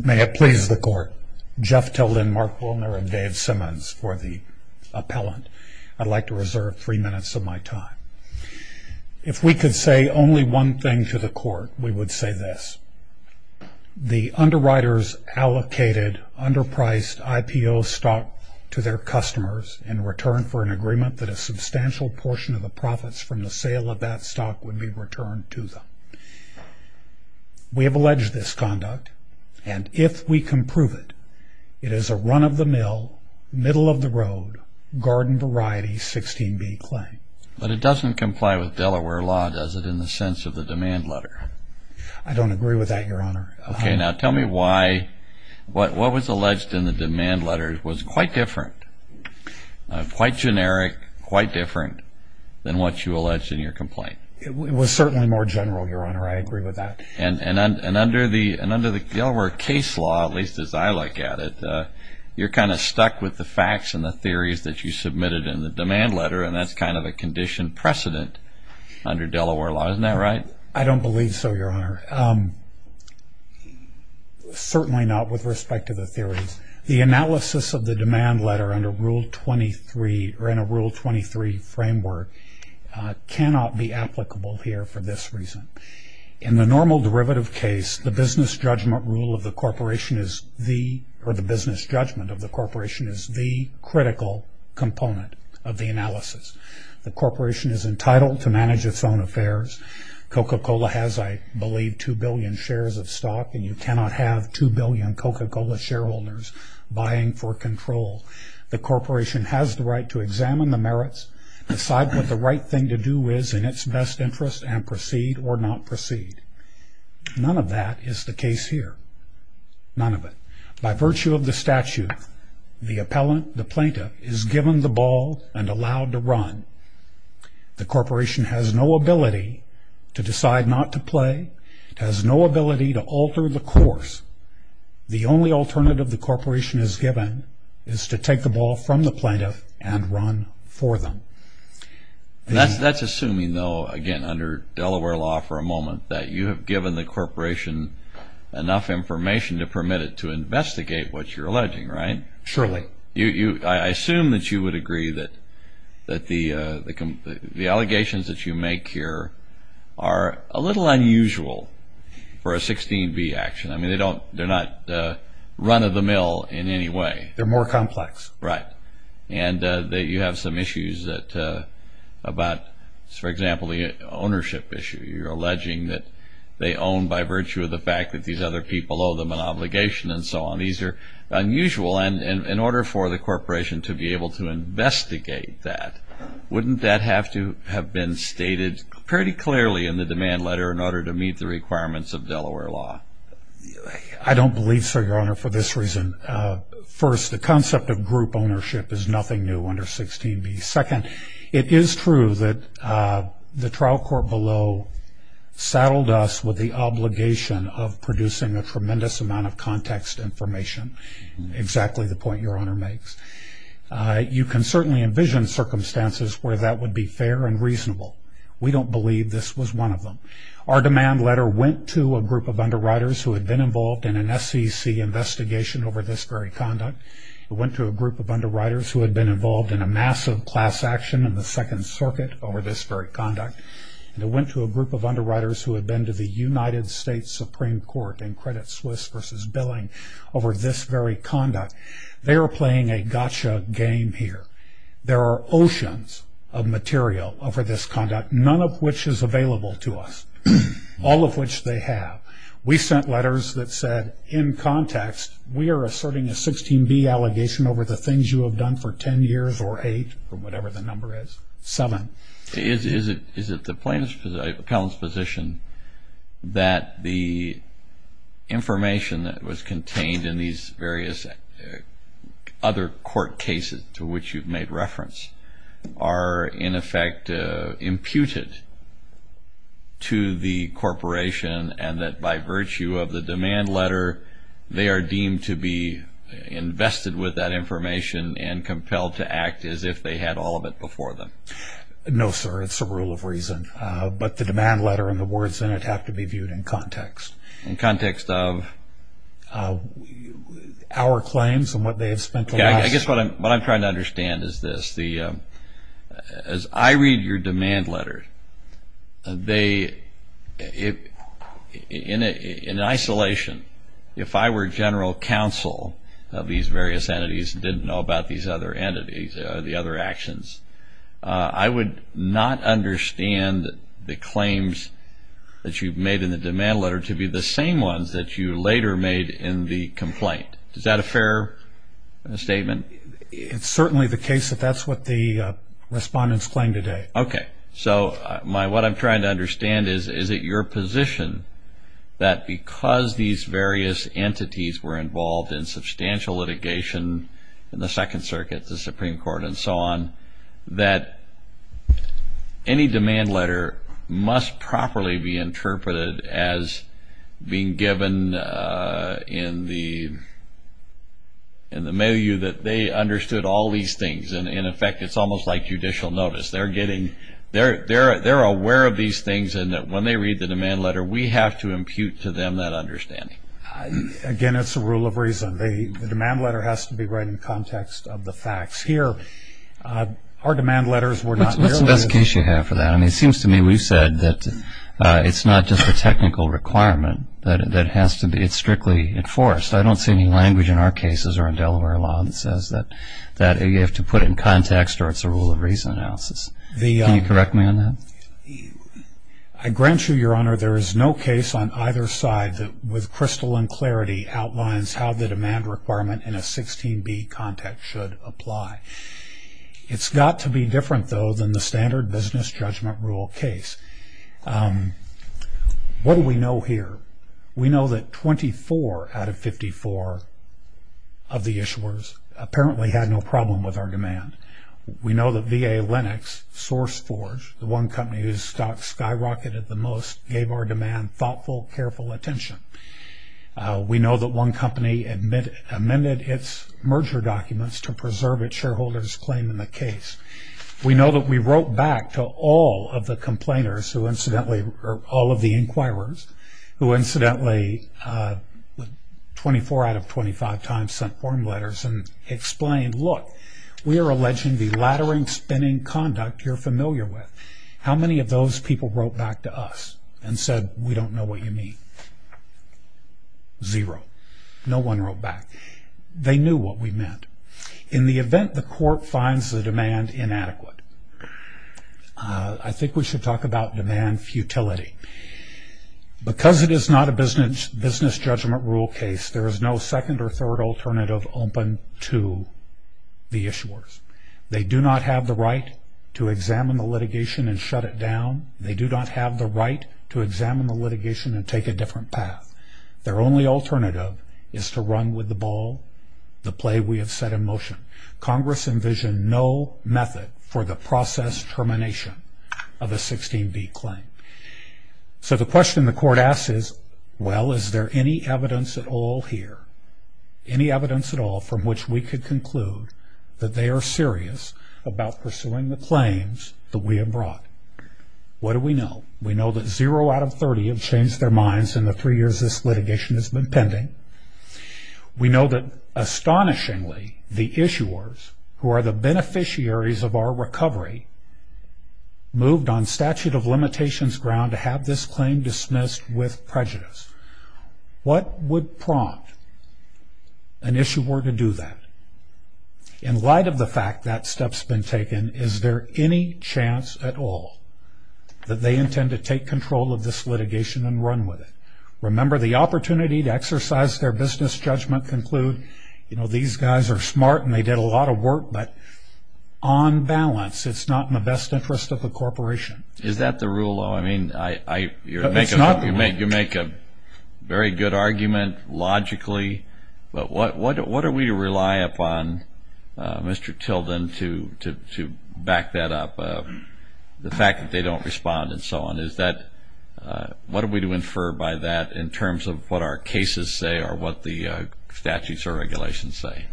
May it please the court, Jeff Tilden, Mark Willner and Dave Simmons for the appellant. I'd like to reserve three minutes of my time. If we could say only one thing to the court we would say this, the underwriters allocated underpriced IPO stock to their customers in return for an agreement that a substantial portion of the profits from the sale of that stock would be returned to them. We have alleged this conduct and if we can prove it, it is a run-of-the- mill, middle-of-the-road, garden variety 16b claim. But it doesn't comply with Delaware law does it in the sense of the demand letter? I don't agree with that your honor. Okay now tell me why what was alleged in the demand letter was quite different, quite generic, quite different than what you alleged in your more general your honor. I agree with that. And under the Delaware case law, at least as I look at it, you're kind of stuck with the facts and the theories that you submitted in the demand letter and that's kind of a condition precedent under Delaware law. Isn't that right? I don't believe so your honor. Certainly not with respect to the theories. The analysis of the demand letter under rule 23 or in a rule 23 framework cannot be applicable here for this reason. In the normal derivative case, the business judgment rule of the corporation is the or the business judgment of the corporation is the critical component of the analysis. The corporation is entitled to manage its own affairs. Coca-Cola has I believe 2 billion shares of stock and you cannot have 2 billion Coca-Cola shareholders buying for control. The corporation has the right to examine the merits, decide what the right thing to do is in its best interest and proceed or not proceed. None of that is the case here. None of it. By virtue of the statute, the appellant, the plaintiff is given the ball and allowed to run. The corporation has no ability to decide not to play, has no ability to alter the course. The only alternative the corporation is given is to take the ball from the plaintiff and run for them. That's that's assuming though again under Delaware law for a moment that you have given the corporation enough information to permit it to investigate what you're alleging, right? Surely. I assume that you would agree that that the the allegations that you make here are a little unusual for a 16b action. I mean they don't they're not run-of-the-mill in any way. They're more complex. Right. And that you have some issues that about, for example, the ownership issue. You're alleging that they own by virtue of the fact that these other people owe them an obligation and so on. These are unusual and in order for the corporation to be able to investigate that, wouldn't that have to have been stated pretty clearly in the demand letter in order to meet the requirements of Delaware law? I don't believe so, your honor, for this reason. First, the concept of group ownership is nothing new under 16b. Second, it is true that the trial court below saddled us with the obligation of producing a tremendous amount of context information. Exactly the point your honor makes. You can certainly envision circumstances where that would be fair and reasonable. We don't believe this was one of them. Our demand letter went to a group of underwriters who had been involved in an SEC investigation over this very conduct. It went to a group of underwriters who had been involved in a massive class action in the Second Circuit over this very conduct. It went to a group of underwriters who had been to the United States Supreme Court in Credit Suisse versus billing over this very conduct. They are playing a gotcha game here. There are oceans of material over this conduct, none of which is available to us. All of which they have. We sent letters that said, in context, we are asserting a 16b allegation over the things you have done for ten years or eight or whatever the number is. Seven. Is it the plaintiff's position, the appellant's position, that the information that was contained in these various other court cases to which you've made reference are in effect imputed to the corporation and that by virtue of the demand letter they are compelled to act as if they had all of it before them? No, sir. It's a rule of reason. But the demand letter and the words in it have to be viewed in context. In context of? Our claims and what they have spent the last... I guess what I'm trying to understand is this. As I read your demand letter, in isolation, if I were general counsel of these various entities and didn't know about these other entities or the other actions, I would not understand the claims that you've made in the demand letter to be the same ones that you later made in the complaint. Is that a fair statement? It's certainly the case that that's what the respondents claim today. Okay. So what I'm trying to understand is, is it your position that because these various entities were involved in substantial litigation in the Second Circuit, the Supreme Court, and so on, that any demand letter must properly be interpreted as being given in the milieu that they understood all these things? And in effect, it's almost like judicial notice. They're aware of these things and that when they read the demand letter, we have to impute to them that understanding. Again, it's a rule of reason. The demand letter has to be right in context of the facts. Here, our demand letters were not... What's the best case you have for that? I mean, it seems to me we've said that it's not just a technical requirement, that it has to be strictly enforced. I don't see any language in our cases or in Delaware law that says that you have to put it in context or it's a rule of reason analysis. Can you correct me on that? I grant you, Your Honor, there is no case on either side that with crystal and clarity outlines how the demand requirement in a 16b context should apply. It's got to be different, though, than the standard business judgment rule case. What do we know here? We know that 24 out of 54 of the issuers apparently had no problem with our demand. We know that VA Lennox, SourceForge, the one company whose stocks skyrocketed the most, gave our demand thoughtful, careful attention. We know that one company amended its merger documents to preserve its shareholders' claim in the case. We know that we wrote back to all of the complainers who, incidentally, all of the inquirers, who, incidentally, 24 out of 25 times sent form letters and explained, look, we are alleging the laddering, spinning conduct you're familiar with. How many of those people wrote back to us and said, we don't know what you mean? Zero. No one wrote back. They knew what we meant. In the event the court finds the demand inadequate, I think we should talk about demand futility. Because it is not a business judgment rule case, there is no second or third alternative open to the issuers. They do not have the right to examine the litigation and shut it down. They do not have the right to examine the litigation and take a different path. Their only alternative is to run with the ball, the play we have set in motion. Congress envisioned no method for the process termination of a 16B claim. So the question the court asks is, well, is there any evidence at all here, any evidence at all, from which we could conclude that they are serious about pursuing the claims that we have brought? What do we know? We know that zero out of 30 have changed their minds in the three years this litigation has been pending. We know that, astonishingly, the issuers, who are the beneficiaries of our recovery, moved on statute of limitations ground to have this claim dismissed with prejudice. What would prompt an issuer to do that? In light of the fact that step has been taken, is there any chance at all that they intend to take control of this litigation and run with it? Remember, the opportunity to exercise their business judgment conclude, you know, these guys are smart and they did a lot of work, but on balance, it's not in the best interest of the corporation. Is that the rule, though? I mean, you make a very good argument, logically, but what are we to rely upon, Mr. Tilden, to back that up? The fact that they don't respond and so on, is that, what are we to infer by that in terms of what our cases say or what the statutes or regulations say?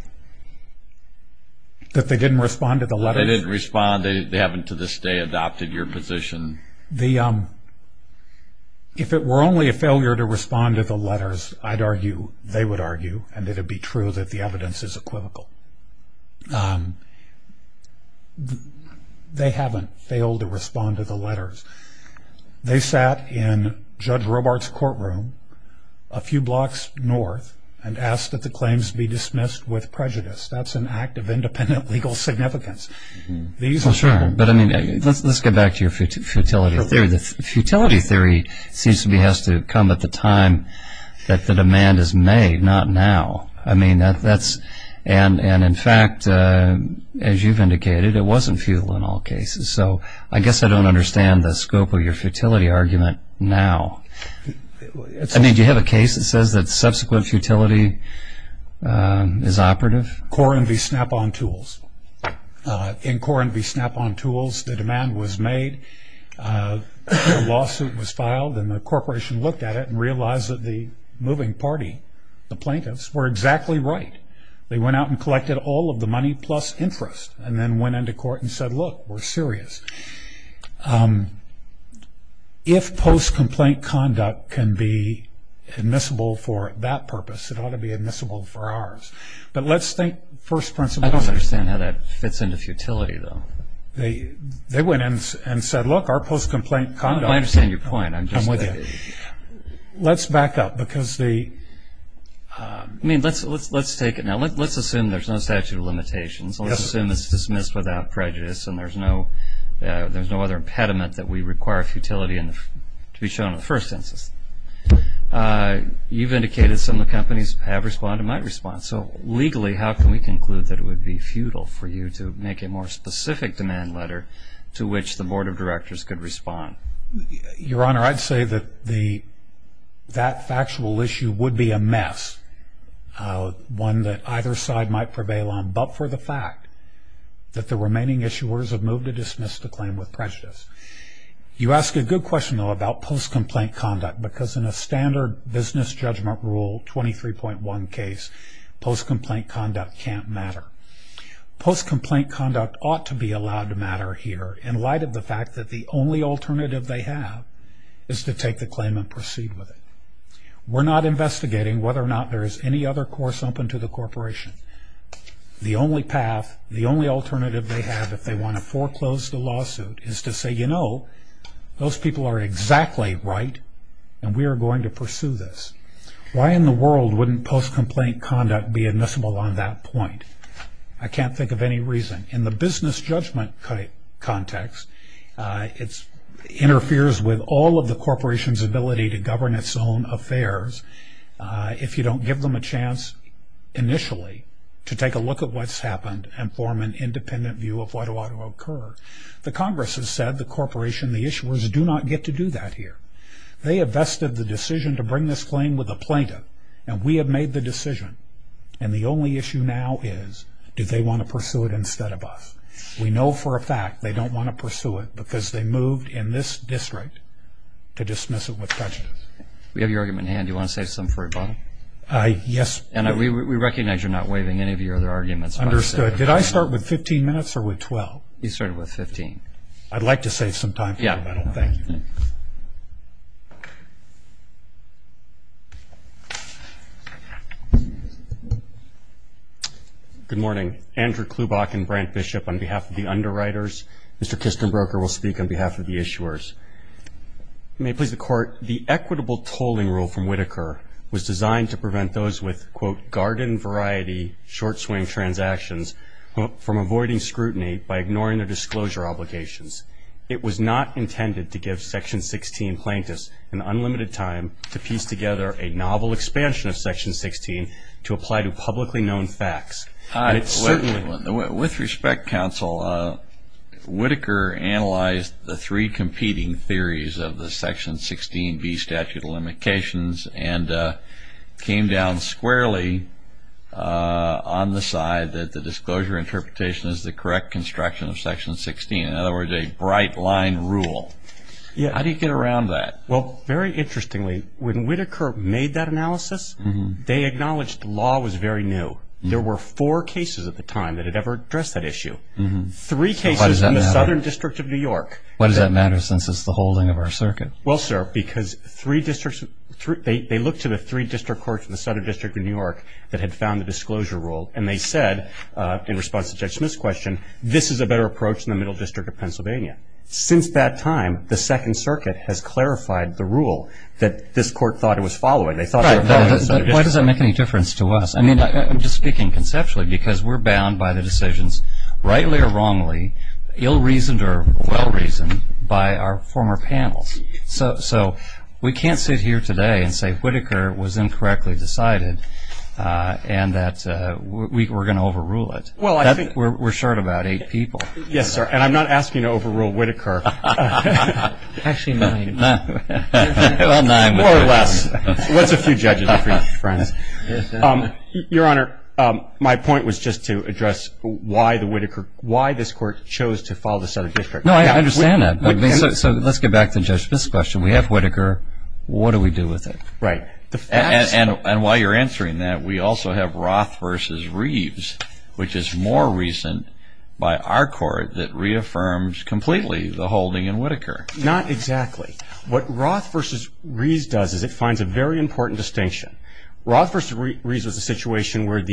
That they didn't respond to the letters? They didn't respond. They haven't, to this day, adopted your position. If it were only a failure to respond to the letters, I'd argue, they would argue, and it would be true that the evidence is equivocal. They haven't failed to respond to the letters. They sat in Judge Robart's courtroom a few blocks north and asked that the claims be But, I mean, let's get back to your futility theory. The futility theory seems to me has to come at the time that the demand is made, not now. I mean, that's, and in fact, as you've indicated, it wasn't futile in all cases. So, I guess I don't understand the scope of your futility argument now. I mean, do you have a case that says that subsequent futility is operative? Corenby Snap-on Tools. In Corenby Snap-on Tools, the demand was made. A lawsuit was filed and the corporation looked at it and realized that the moving party, the plaintiffs, were exactly right. They went out and collected all of the money plus interest and then went into court and said, look, we're serious. If post-complaint conduct can be admissible for that purpose, it ought to be admissible for ours. But let's think first principle. I don't understand how that fits into futility, though. They went and said, look, our post-complaint conduct. I understand your point. I'm just saying. Let's back up because the... I mean, let's take it now. Let's assume there's no statute of limitations. Let's assume it's dismissed without prejudice and there's no other impediment that we require futility in the... to be shown in the first instance. You've indicated some of the companies have responded and might respond. So legally, how can we conclude that it would be futile for you to make a more specific demand letter to which the board of directors could respond? Your Honor, I'd say that the... that factual issue would be a mess, one that either side might prevail on, but for the fact that the remaining issuers have moved to dismiss the I have a question, though, about post-complaint conduct because in a standard business judgment rule 23.1 case, post-complaint conduct can't matter. Post-complaint conduct ought to be allowed to matter here in light of the fact that the only alternative they have is to take the claim and proceed with it. We're not investigating whether or not there is any other course open to the corporation. The only path, the only alternative they have if they want to foreclose the lawsuit is to say, you know, those people are exactly right and we are going to pursue this. Why in the world wouldn't post-complaint conduct be admissible on that point? I can't think of any reason. In the business judgment context, it interferes with all of the corporation's ability to govern its own affairs if you don't give them a chance initially to take a look at what's happened and form an independent view of what ought to occur. The Congress has said the corporation, the issuers, do not get to do that here. They have vested the decision to bring this claim with a plaintiff and we have made the decision. And the only issue now is, do they want to pursue it instead of us? We know for a fact they don't want to pursue it because they moved in this district to dismiss it with prejudice. We have your argument in hand. Do you want to say something for rebuttal? Yes. And we recognize you're not waiving any of your other arguments. Understood. Did I start with 15 minutes or with 12? You started with 15. I'd like to save some time for rebuttal. Thank you. Good morning. Andrew Klubach and Brent Bishop on behalf of the underwriters. Mr. Kistenbroker will speak on behalf of the issuers. May it please the court, the equitable tolling rule from Whitaker was designed to prevent those with, quote, from avoiding scrutiny by ignoring their disclosure obligations. It was not intended to give Section 16 plaintiffs an unlimited time to piece together a novel expansion of Section 16 to apply to publicly known facts. With respect, counsel, Whitaker analyzed the three competing theories of the Section 16B statute of limitations and came down squarely on the side that the disclosure interpretation is the correct construction of Section 16. In other words, a bright line rule. How do you get around that? Well, very interestingly, when Whitaker made that analysis, they acknowledged the law was very new. There were four cases at the time that had ever addressed that issue. Three cases in the Southern District of New York. What does that matter since it's the holding of our circuit? Well, sir, because three districts, they looked to the three district courts in the Southern District of New York that had found the disclosure rule and they said, in response to Judge Smith's question, this is a better approach than the Middle District of Pennsylvania. Since that time, the Second Circuit has clarified the rule that this court thought it was following. They thought they were following the Southern District. Why does that make any difference to us? I mean, I'm just speaking conceptually because we're bound by the decisions, rightly or wrongly, ill-reasoned or well-reasoned, by our former panels. So we can't sit here today and say Whitaker was incorrectly decided and that we're going to overrule it. Well, I think we're short about eight people. Yes, sir. And I'm not asking to overrule Whitaker. Actually, nine. Well, nine. More or less. That's a few judges, a few friends. Your Honor, my point was just to address why the Whitaker, why this court chose to follow the Southern District. No, I understand that. So let's get back to Judge Smith's question. We have Whitaker. What do we do with it? Right. And while you're answering that, we also have Roth v. Reeves, which is more recent by our court that reaffirms completely the holding in Whitaker. Not exactly. What Roth v. Reeves does is it finds a very important distinction. Roth v. Reeves was a situation where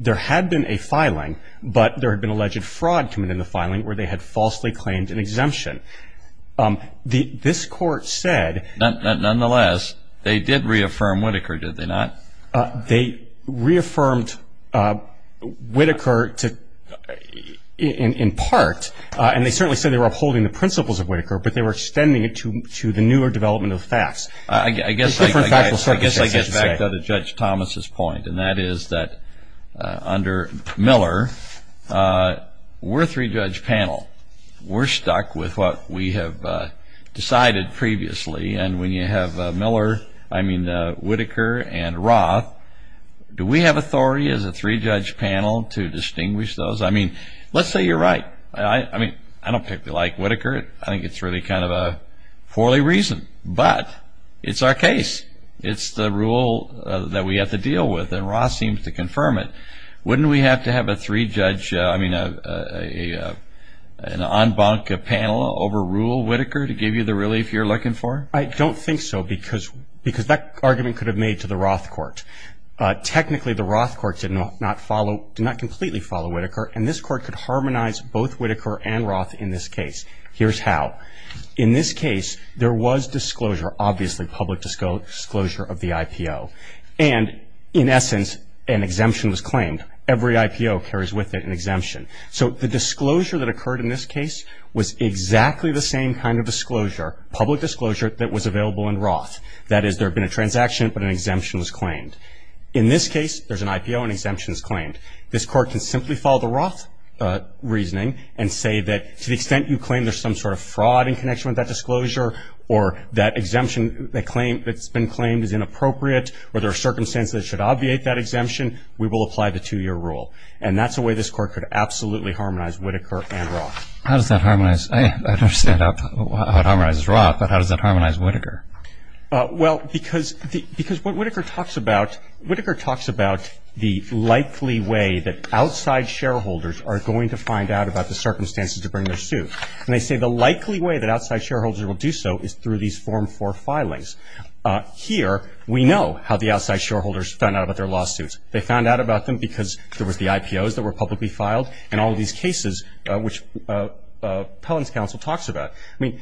there had been a filing, but there had been alleged fraud committed in the filing where they had falsely claimed an exemption. This court said... Nonetheless, they did reaffirm Whitaker, did they not? They reaffirmed Whitaker in part, and they certainly said they were upholding the principles of Whitaker, but they were extending it to the newer development of the facts. I guess I get back to Judge Thomas's point, and that is that under Miller, we're a three-judge panel. We're stuck with what we have decided previously, and when you have Miller, I mean Whitaker, and Roth, do we have authority as a three-judge panel to distinguish those? Let's say you're right. I don't particularly like Whitaker. I think it's really kind of a poorly reasoned, but it's our case. It's the rule that we have to deal with, and Roth seems to confirm it. Wouldn't we have to have a three-judge, I mean an en banc panel over there? Because that argument could have made to the Roth court. Technically, the Roth court did not completely follow Whitaker, and this court could harmonize both Whitaker and Roth in this case. Here's how. In this case, there was disclosure, obviously public disclosure of the IPO, and in essence, an exemption was claimed. Every IPO carries with it an exemption. So the disclosure that occurred in this case was exactly the same kind of disclosure, public That is, there had been a transaction, but an exemption was claimed. In this case, there's an IPO and an exemption is claimed. This court can simply follow the Roth reasoning and say that to the extent you claim there's some sort of fraud in connection with that disclosure or that exemption that's been claimed is inappropriate or there are circumstances that should obviate that exemption, we will apply the two-year rule, and that's a way this court could absolutely harmonize Whitaker and Roth. How does that harmonize? I don't understand how it harmonizes with Whitaker. Well, because what Whitaker talks about, Whitaker talks about the likely way that outside shareholders are going to find out about the circumstances to bring their suit, and they say the likely way that outside shareholders will do so is through these Form 4 filings. Here, we know how the outside shareholders found out about their lawsuits. They found out about them because there was the IPOs that were publicly filed in all of these cases, which Pellon's counsel talks about. I mean,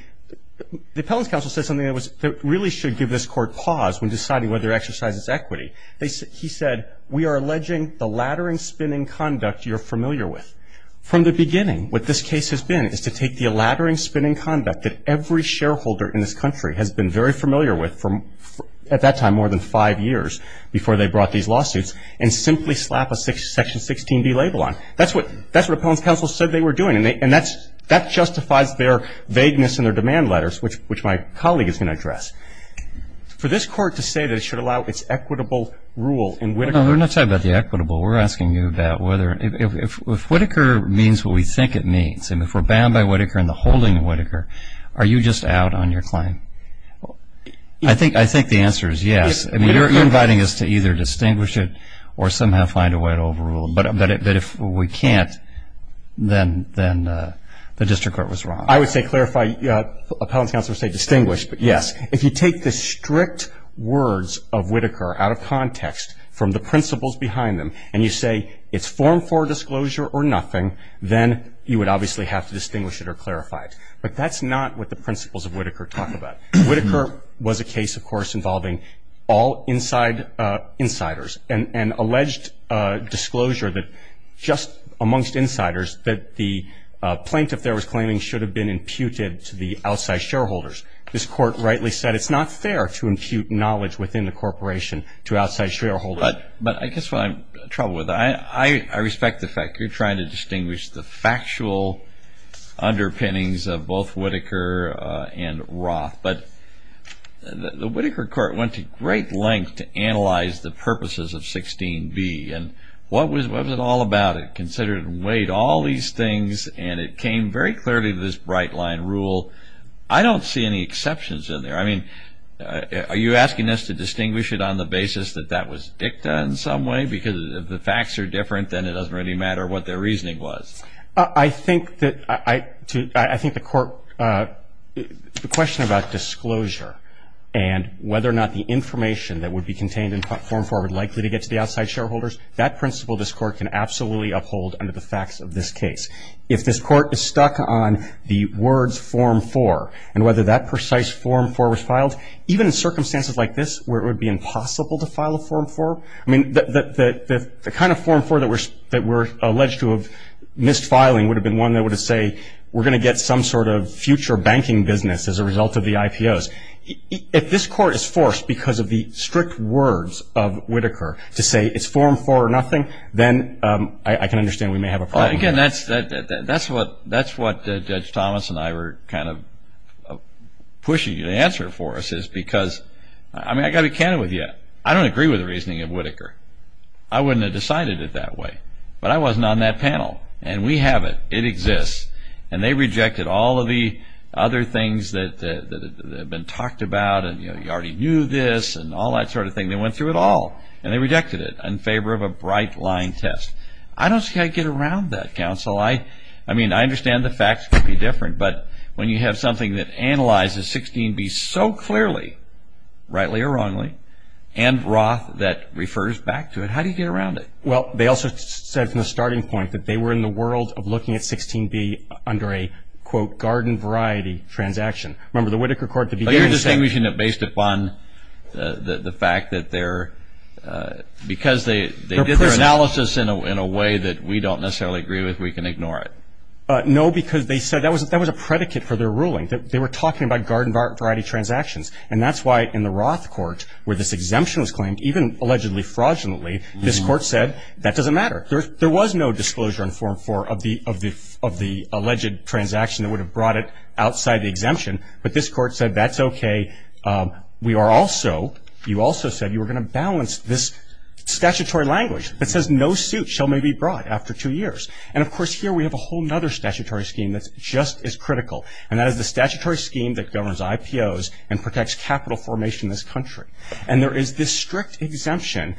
the Pellon's counsel said something that really should give this court pause when deciding whether to exercise its equity. He said, we are alleging the laddering, spinning conduct you're familiar with. From the beginning, what this case has been is to take the laddering, spinning conduct that every shareholder in this country has been very familiar with at that time, more than five years before they brought these lawsuits, and simply slap a Section 16B label on it. That's what Pellon's counsel said they were doing, and that justifies their vagueness in their demand letters, which my colleague is going to address. For this court to say that it should allow its equitable rule in Whittaker. Well, we're not talking about the equitable. We're asking you about whether if Whittaker means what we think it means, and if we're bound by Whittaker and the holding of Whittaker, are you just out on your claim? I think the answer is yes. I mean, you're inviting us to either distinguish it or somehow find a way to overrule it. But if we can't, then the district court was wrong. I would say clarify, Pellon's counsel would say distinguish, but yes. If you take the strict words of Whittaker out of context, from the principles behind them, and you say it's form for disclosure or nothing, then you would obviously have to distinguish it or clarify it. But that's not what the principles of Whittaker talk about. Whittaker was a case, of course, involving all inside insiders, and alleged disclosure that just amongst insiders that the plaintiff there was claiming should have been imputed to the outside shareholders. This court rightly said it's not fair to impute knowledge within the corporation to outside shareholders. But I guess what I'm in trouble with, I respect the fact you're trying to distinguish the factual underpinnings of both Whittaker and Roth. But the Whittaker court went to great length to analyze the purposes of 16B. And what was it all about? It considered and weighed all these things, and it came very clearly to this bright line rule. I don't see any exceptions in there. I mean, are you asking us to distinguish it on the basis that that was dicta in some way? Because if the facts are different, then it doesn't really matter what their reasoning was. I think that I think the court, the question about disclosure and whether or not the information that would be contained in Form 4 would likely to get to the outside shareholders, that principle this court can absolutely uphold under the facts of this case. If this court is stuck on the words Form 4, and whether that precise Form 4 was filed, even in circumstances like this where it would be impossible to file a Form 4, I mean, the kind of Form 4 that we're alleged to have missed filing would have been one that would have said, we're going to get some sort of future banking business as a result of the IPOs. If this court is forced, because of the strict words of Whitaker, to say it's Form 4 or nothing, then I can understand we may have a problem. Again, that's what Judge Thomas and I were kind of pushing the answer for us, is because, I mean, I've got to be candid with you. I don't agree with the reasoning of Whitaker. I wouldn't have decided it that way. But I wasn't on that panel. And we have it. It wasn't talked about, and you already knew this, and all that sort of thing. They went through it all, and they rejected it in favor of a bright line test. I don't see how you get around that, counsel. I mean, I understand the facts could be different, but when you have something that analyzes 16B so clearly, rightly or wrongly, and Roth that refers back to it, how do you get around it? Well, they also said from the starting point that they were in the world of looking at the fact that they're, because they did their analysis in a way that we don't necessarily agree with, we can ignore it. No, because they said that was a predicate for their ruling. They were talking about garden variety transactions. And that's why in the Roth court, where this exemption was claimed, even allegedly fraudulently, this court said, that doesn't matter. There was no disclosure in Form 4 of the alleged transaction that would have brought it outside the exemption. But this court said, that's okay. We are also, you also said you were going to balance this statutory language that says no suit shall be brought after two years. And of course here we have a whole other statutory scheme that's just as critical, and that is the statutory scheme that governs IPOs and protects capital formation in this country. And there is this strict exemption,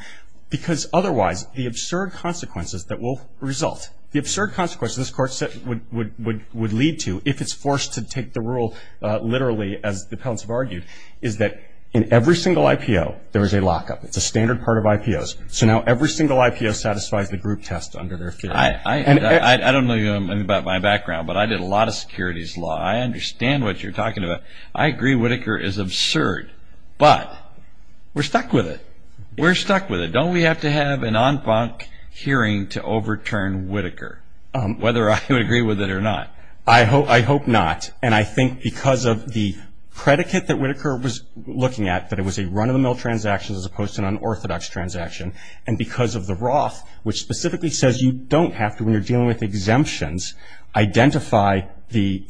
because otherwise the absurd consequences that will result, the absurd consequences this court said would lead to if it's forced to take the rule, literally, as the Peltz have argued, is that in every single IPO, there is a lockup. It's a standard part of IPOs. So now every single IPO satisfies the group test under their field. I don't know anything about my background, but I did a lot of securities law. I understand what you're talking about. I agree Whitaker is absurd, but we're stuck with it. We're stuck with it. Don't we have to have an en banc hearing to overturn Whitaker, whether I would agree with it or not? I hope not. And I think because of the predicate that Whitaker was looking at, that it was a run-of-the-mill transaction as opposed to an unorthodox transaction, and because of the Roth, which specifically says you don't have to, when you're dealing with exemptions, identify the,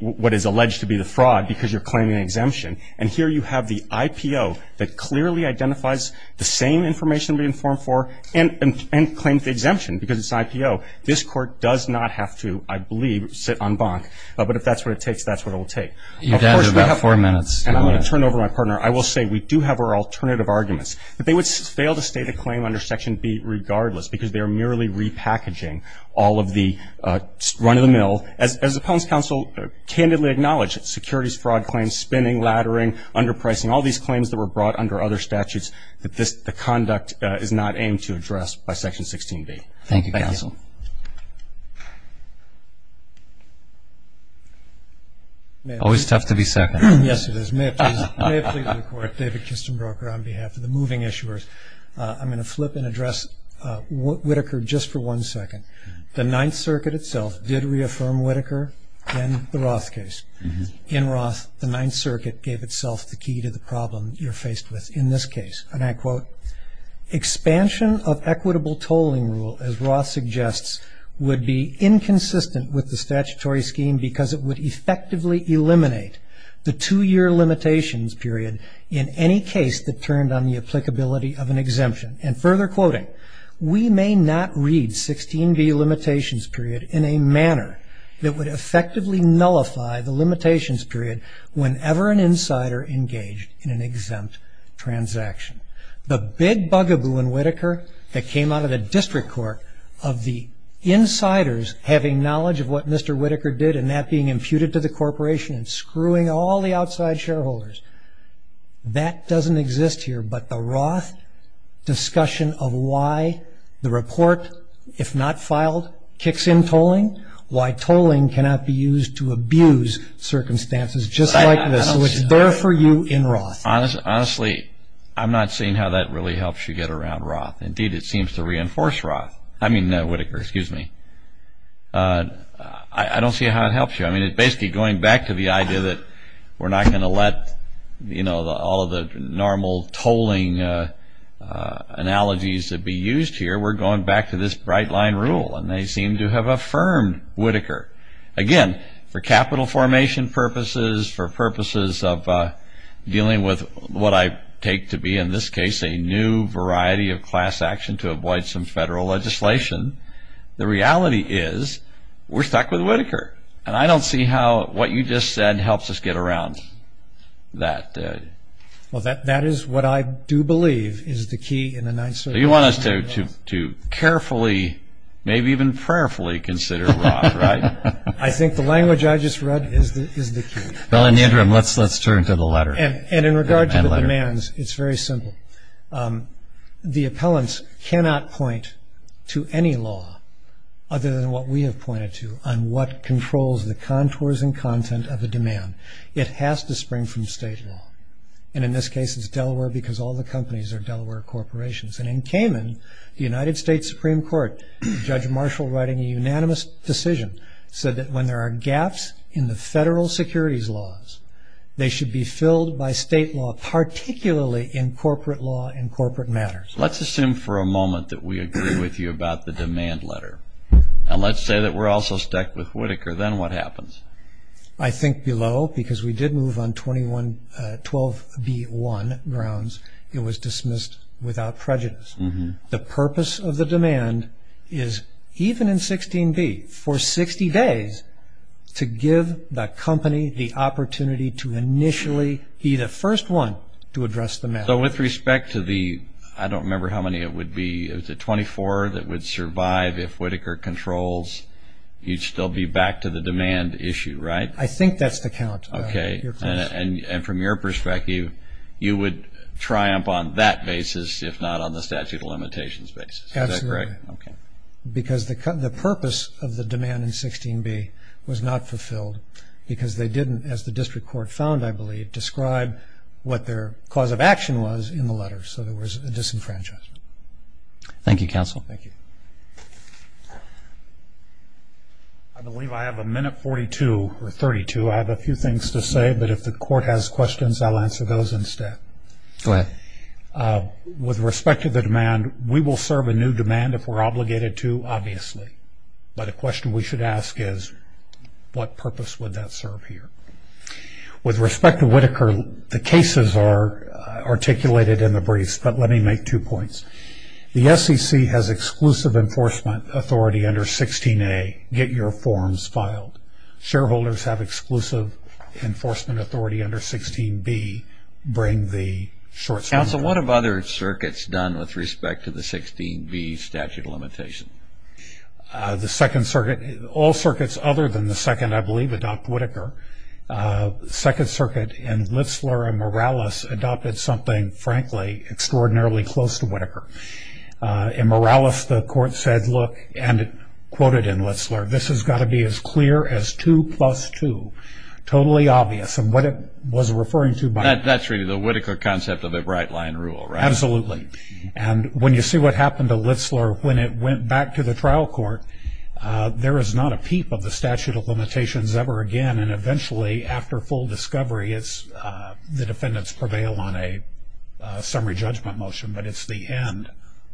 what is alleged to be the fraud, because you're claiming an exemption. And here you have the IPO that clearly identifies the same information to be informed for and claims the exemption, because it's an IPO. This court does not have to, I believe, sit en banc, but if that's what it takes, that's what it will take. You've added about four minutes. And I'm going to turn it over to my partner. I will say we do have our alternative arguments, that they would fail to state a claim under Section B regardless, because they are merely repackaging all of the run-of-the-mill, as the Pwns Council candidly acknowledged, securities fraud claims, spinning, laddering, underpricing, all these claims that were brought under other Thank you, counsel. Always tough to be second. Yes, it is. May it please the court, David Kistenbroker on behalf of the moving issuers, I'm going to flip and address Whitaker just for one second. The Ninth Circuit itself did reaffirm Whitaker in the Roth case. In Roth, the Ninth Circuit gave itself the key to the ruling rule, as Roth suggests, would be inconsistent with the statutory scheme because it would effectively eliminate the two-year limitations period in any case that turned on the applicability of an exemption. And further quoting, we may not read 16b limitations period in a manner that would effectively nullify the limitations period whenever an insider engaged in an exempt transaction. The big bugaboo in Whitaker that came out of the district court of the insiders having knowledge of what Mr. Whitaker did and that being imputed to the corporation and screwing all the outside shareholders, that doesn't exist here. But the Roth discussion of why the report, if not filed, kicks in tolling, why tolling cannot be used to abuse circumstances just like this. So it's there for you in Roth. Honestly, I'm not seeing how that really helps you get around Roth. Indeed, it seems to reinforce Roth. I mean, Whitaker, excuse me. I don't see how it helps you. I mean, it's basically going back to the idea that we're not going to let all of the normal tolling analogies that be used here. We're going back to this bright line rule. And they seem to have affirmed Whitaker. Again, for capital formation purposes, for purposes of dealing with what I take to be in this case a new variety of class action to avoid some federal legislation, the reality is we're stuck with Whitaker. And I don't see how what you just said helps us get around that. That is what I do believe is the key in the Ninth Circuit. So you want us to carefully, maybe even prayerfully consider Roth, right? I think the language I just read is the key. Well, in the interim, let's turn to the letter. And in regard to the demands, it's very simple. The appellants cannot point to any law other than what we have pointed to on what controls the contours and content of a demand. It has to spring from state law. And in this case, it's Delaware because all the companies are Cayman. The United States Supreme Court, Judge Marshall writing a unanimous decision said that when there are gaps in the federal securities laws, they should be filled by state law, particularly in corporate law and corporate matters. Let's assume for a moment that we agree with you about the demand letter. And let's say that we're also stuck with Whitaker. Then what happens? I think below, because we did move on 12B1 grounds, it was dismissed without prejudice. The purpose of the demand is, even in 16B, for 60 days, to give the company the opportunity to initially be the first one to address the matter. So with respect to the, I don't remember how many it would be, it was the 24 that would survive if Whitaker controls, you'd still be back to the demand issue, right? I think that's the count. Okay. And from your perspective, you would triumph on that basis if not on the statute of limitations basis. Absolutely. Is that correct? Okay. Because the purpose of the demand in 16B was not fulfilled because they didn't, as the district court found, I believe, describe what their cause of action was in the letter. So there was a disenfranchisement. Thank you, counsel. Thank you. I believe I have a minute 42, or 32. I have a few things to say, but if the court has questions, I'll answer those instead. Go ahead. With respect to the demand, we will serve a new demand if we're obligated to, obviously. But a question we should ask is, what purpose would that serve here? With respect to Whitaker, the cases are articulated in the briefs, but let me make two points. The SEC has exclusive enforcement authority under 16A, get your forms filed. Shareholders have exclusive enforcement authority under 16B, bring the short summary. Counsel, what have other circuits done with respect to the 16B statute of limitation? The Second Circuit, all circuits other than the Second, I believe, adopt Whitaker. Second Circuit in Litzler and Morales adopted something, frankly, extraordinarily close to Whitaker. In Morales, the court said, and it quoted in Litzler, this has got to be as clear as two plus two, totally obvious. And what it was referring to by that- That's really the Whitaker concept of a bright line rule, right? Absolutely. And when you see what happened to Litzler when it went back to the trial court, there is not a peep of the statute of limitations ever again. And eventually, after full discovery, the defendants prevail on a summary judgment motion, but it's the end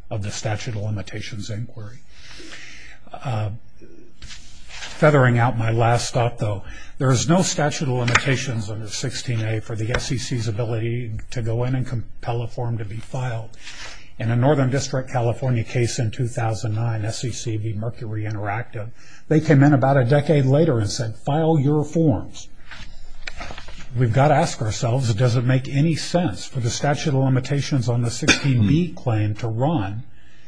of the statute of limitations inquiry. Feathering out my last thought, though, there is no statute of limitations under 16A for the SEC's ability to go in and compel a form to be filed. In a Northern District, California case in 2009, SEC v. Mercury Interactive, they came in about a decade later and said, file your forms. We've got to ask ourselves, does it make any sense for the statute of limitations on the APB claim to run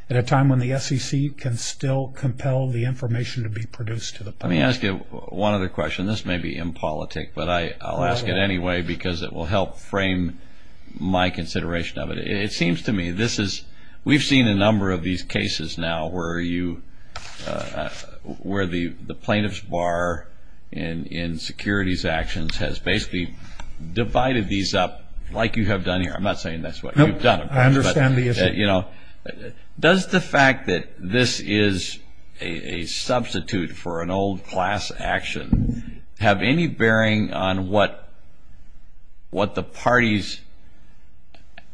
at a time when the SEC can still compel the information to be produced to the public? Let me ask you one other question. This may be impolitic, but I'll ask it anyway because it will help frame my consideration of it. It seems to me, we've seen a number of these cases now where the plaintiff's bar in securities actions has basically divided these up like you have done here. I'm not saying that's what you've done. I understand the issue. Does the fact that this is a substitute for an old class action have any bearing on what the parties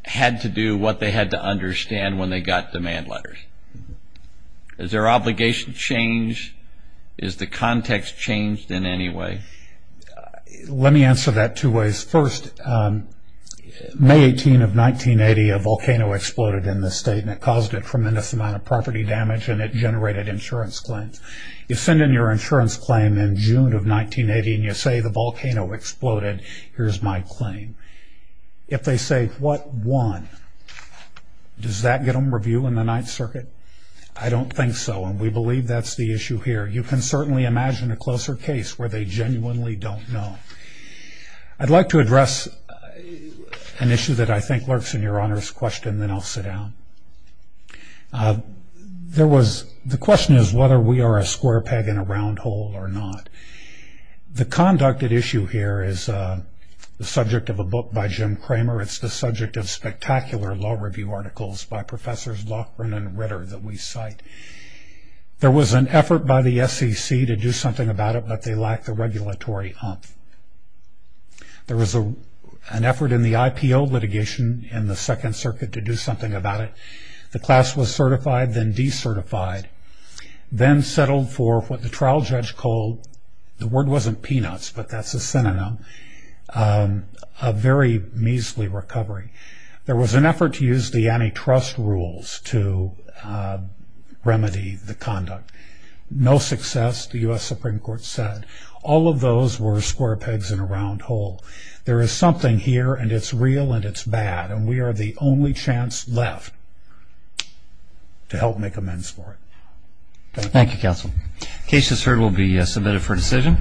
had to do, what they had to understand when they got demand letters? Is their obligation changed? Is the context changed in any way? Let me answer that two ways. First, May 18 of 1980, a volcano exploded in this state and it caused a tremendous amount of property damage and it generated insurance claims. You send in your insurance claim in June of 1980 and you say the volcano exploded. Here's my claim. If they say, what won, does that get them review in the Ninth Circuit? I don't think so and we believe that's the issue here. You can certainly imagine a closer case where they genuinely don't know. I'd like to address an issue that I think lurks in your Honor's question and then I'll sit down. The question is whether we are a square peg in a round hole or not. The conducted issue here is the subject of a book by Jim Cramer. It's the subject of spectacular law review articles by Professors Loughran and Ritter that we cite. There was an effort by the SEC to do something about it, but they lacked the regulatory oomph. There was an effort in the IPO litigation in the Second Circuit to do something about it. The class was certified, then decertified, then settled for what the trial judge called – the word wasn't peanuts, but that's a synonym – a very measly recovery. There was an effort to use the antitrust rules to remedy the conduct. No success, the U.S. Supreme Court said. All of those were square pegs in a round hole. There is something here and it's real and it's bad and we are the only chance left to help make amends for it. Thank you, Counsel. The case that's heard will be submitted for decision.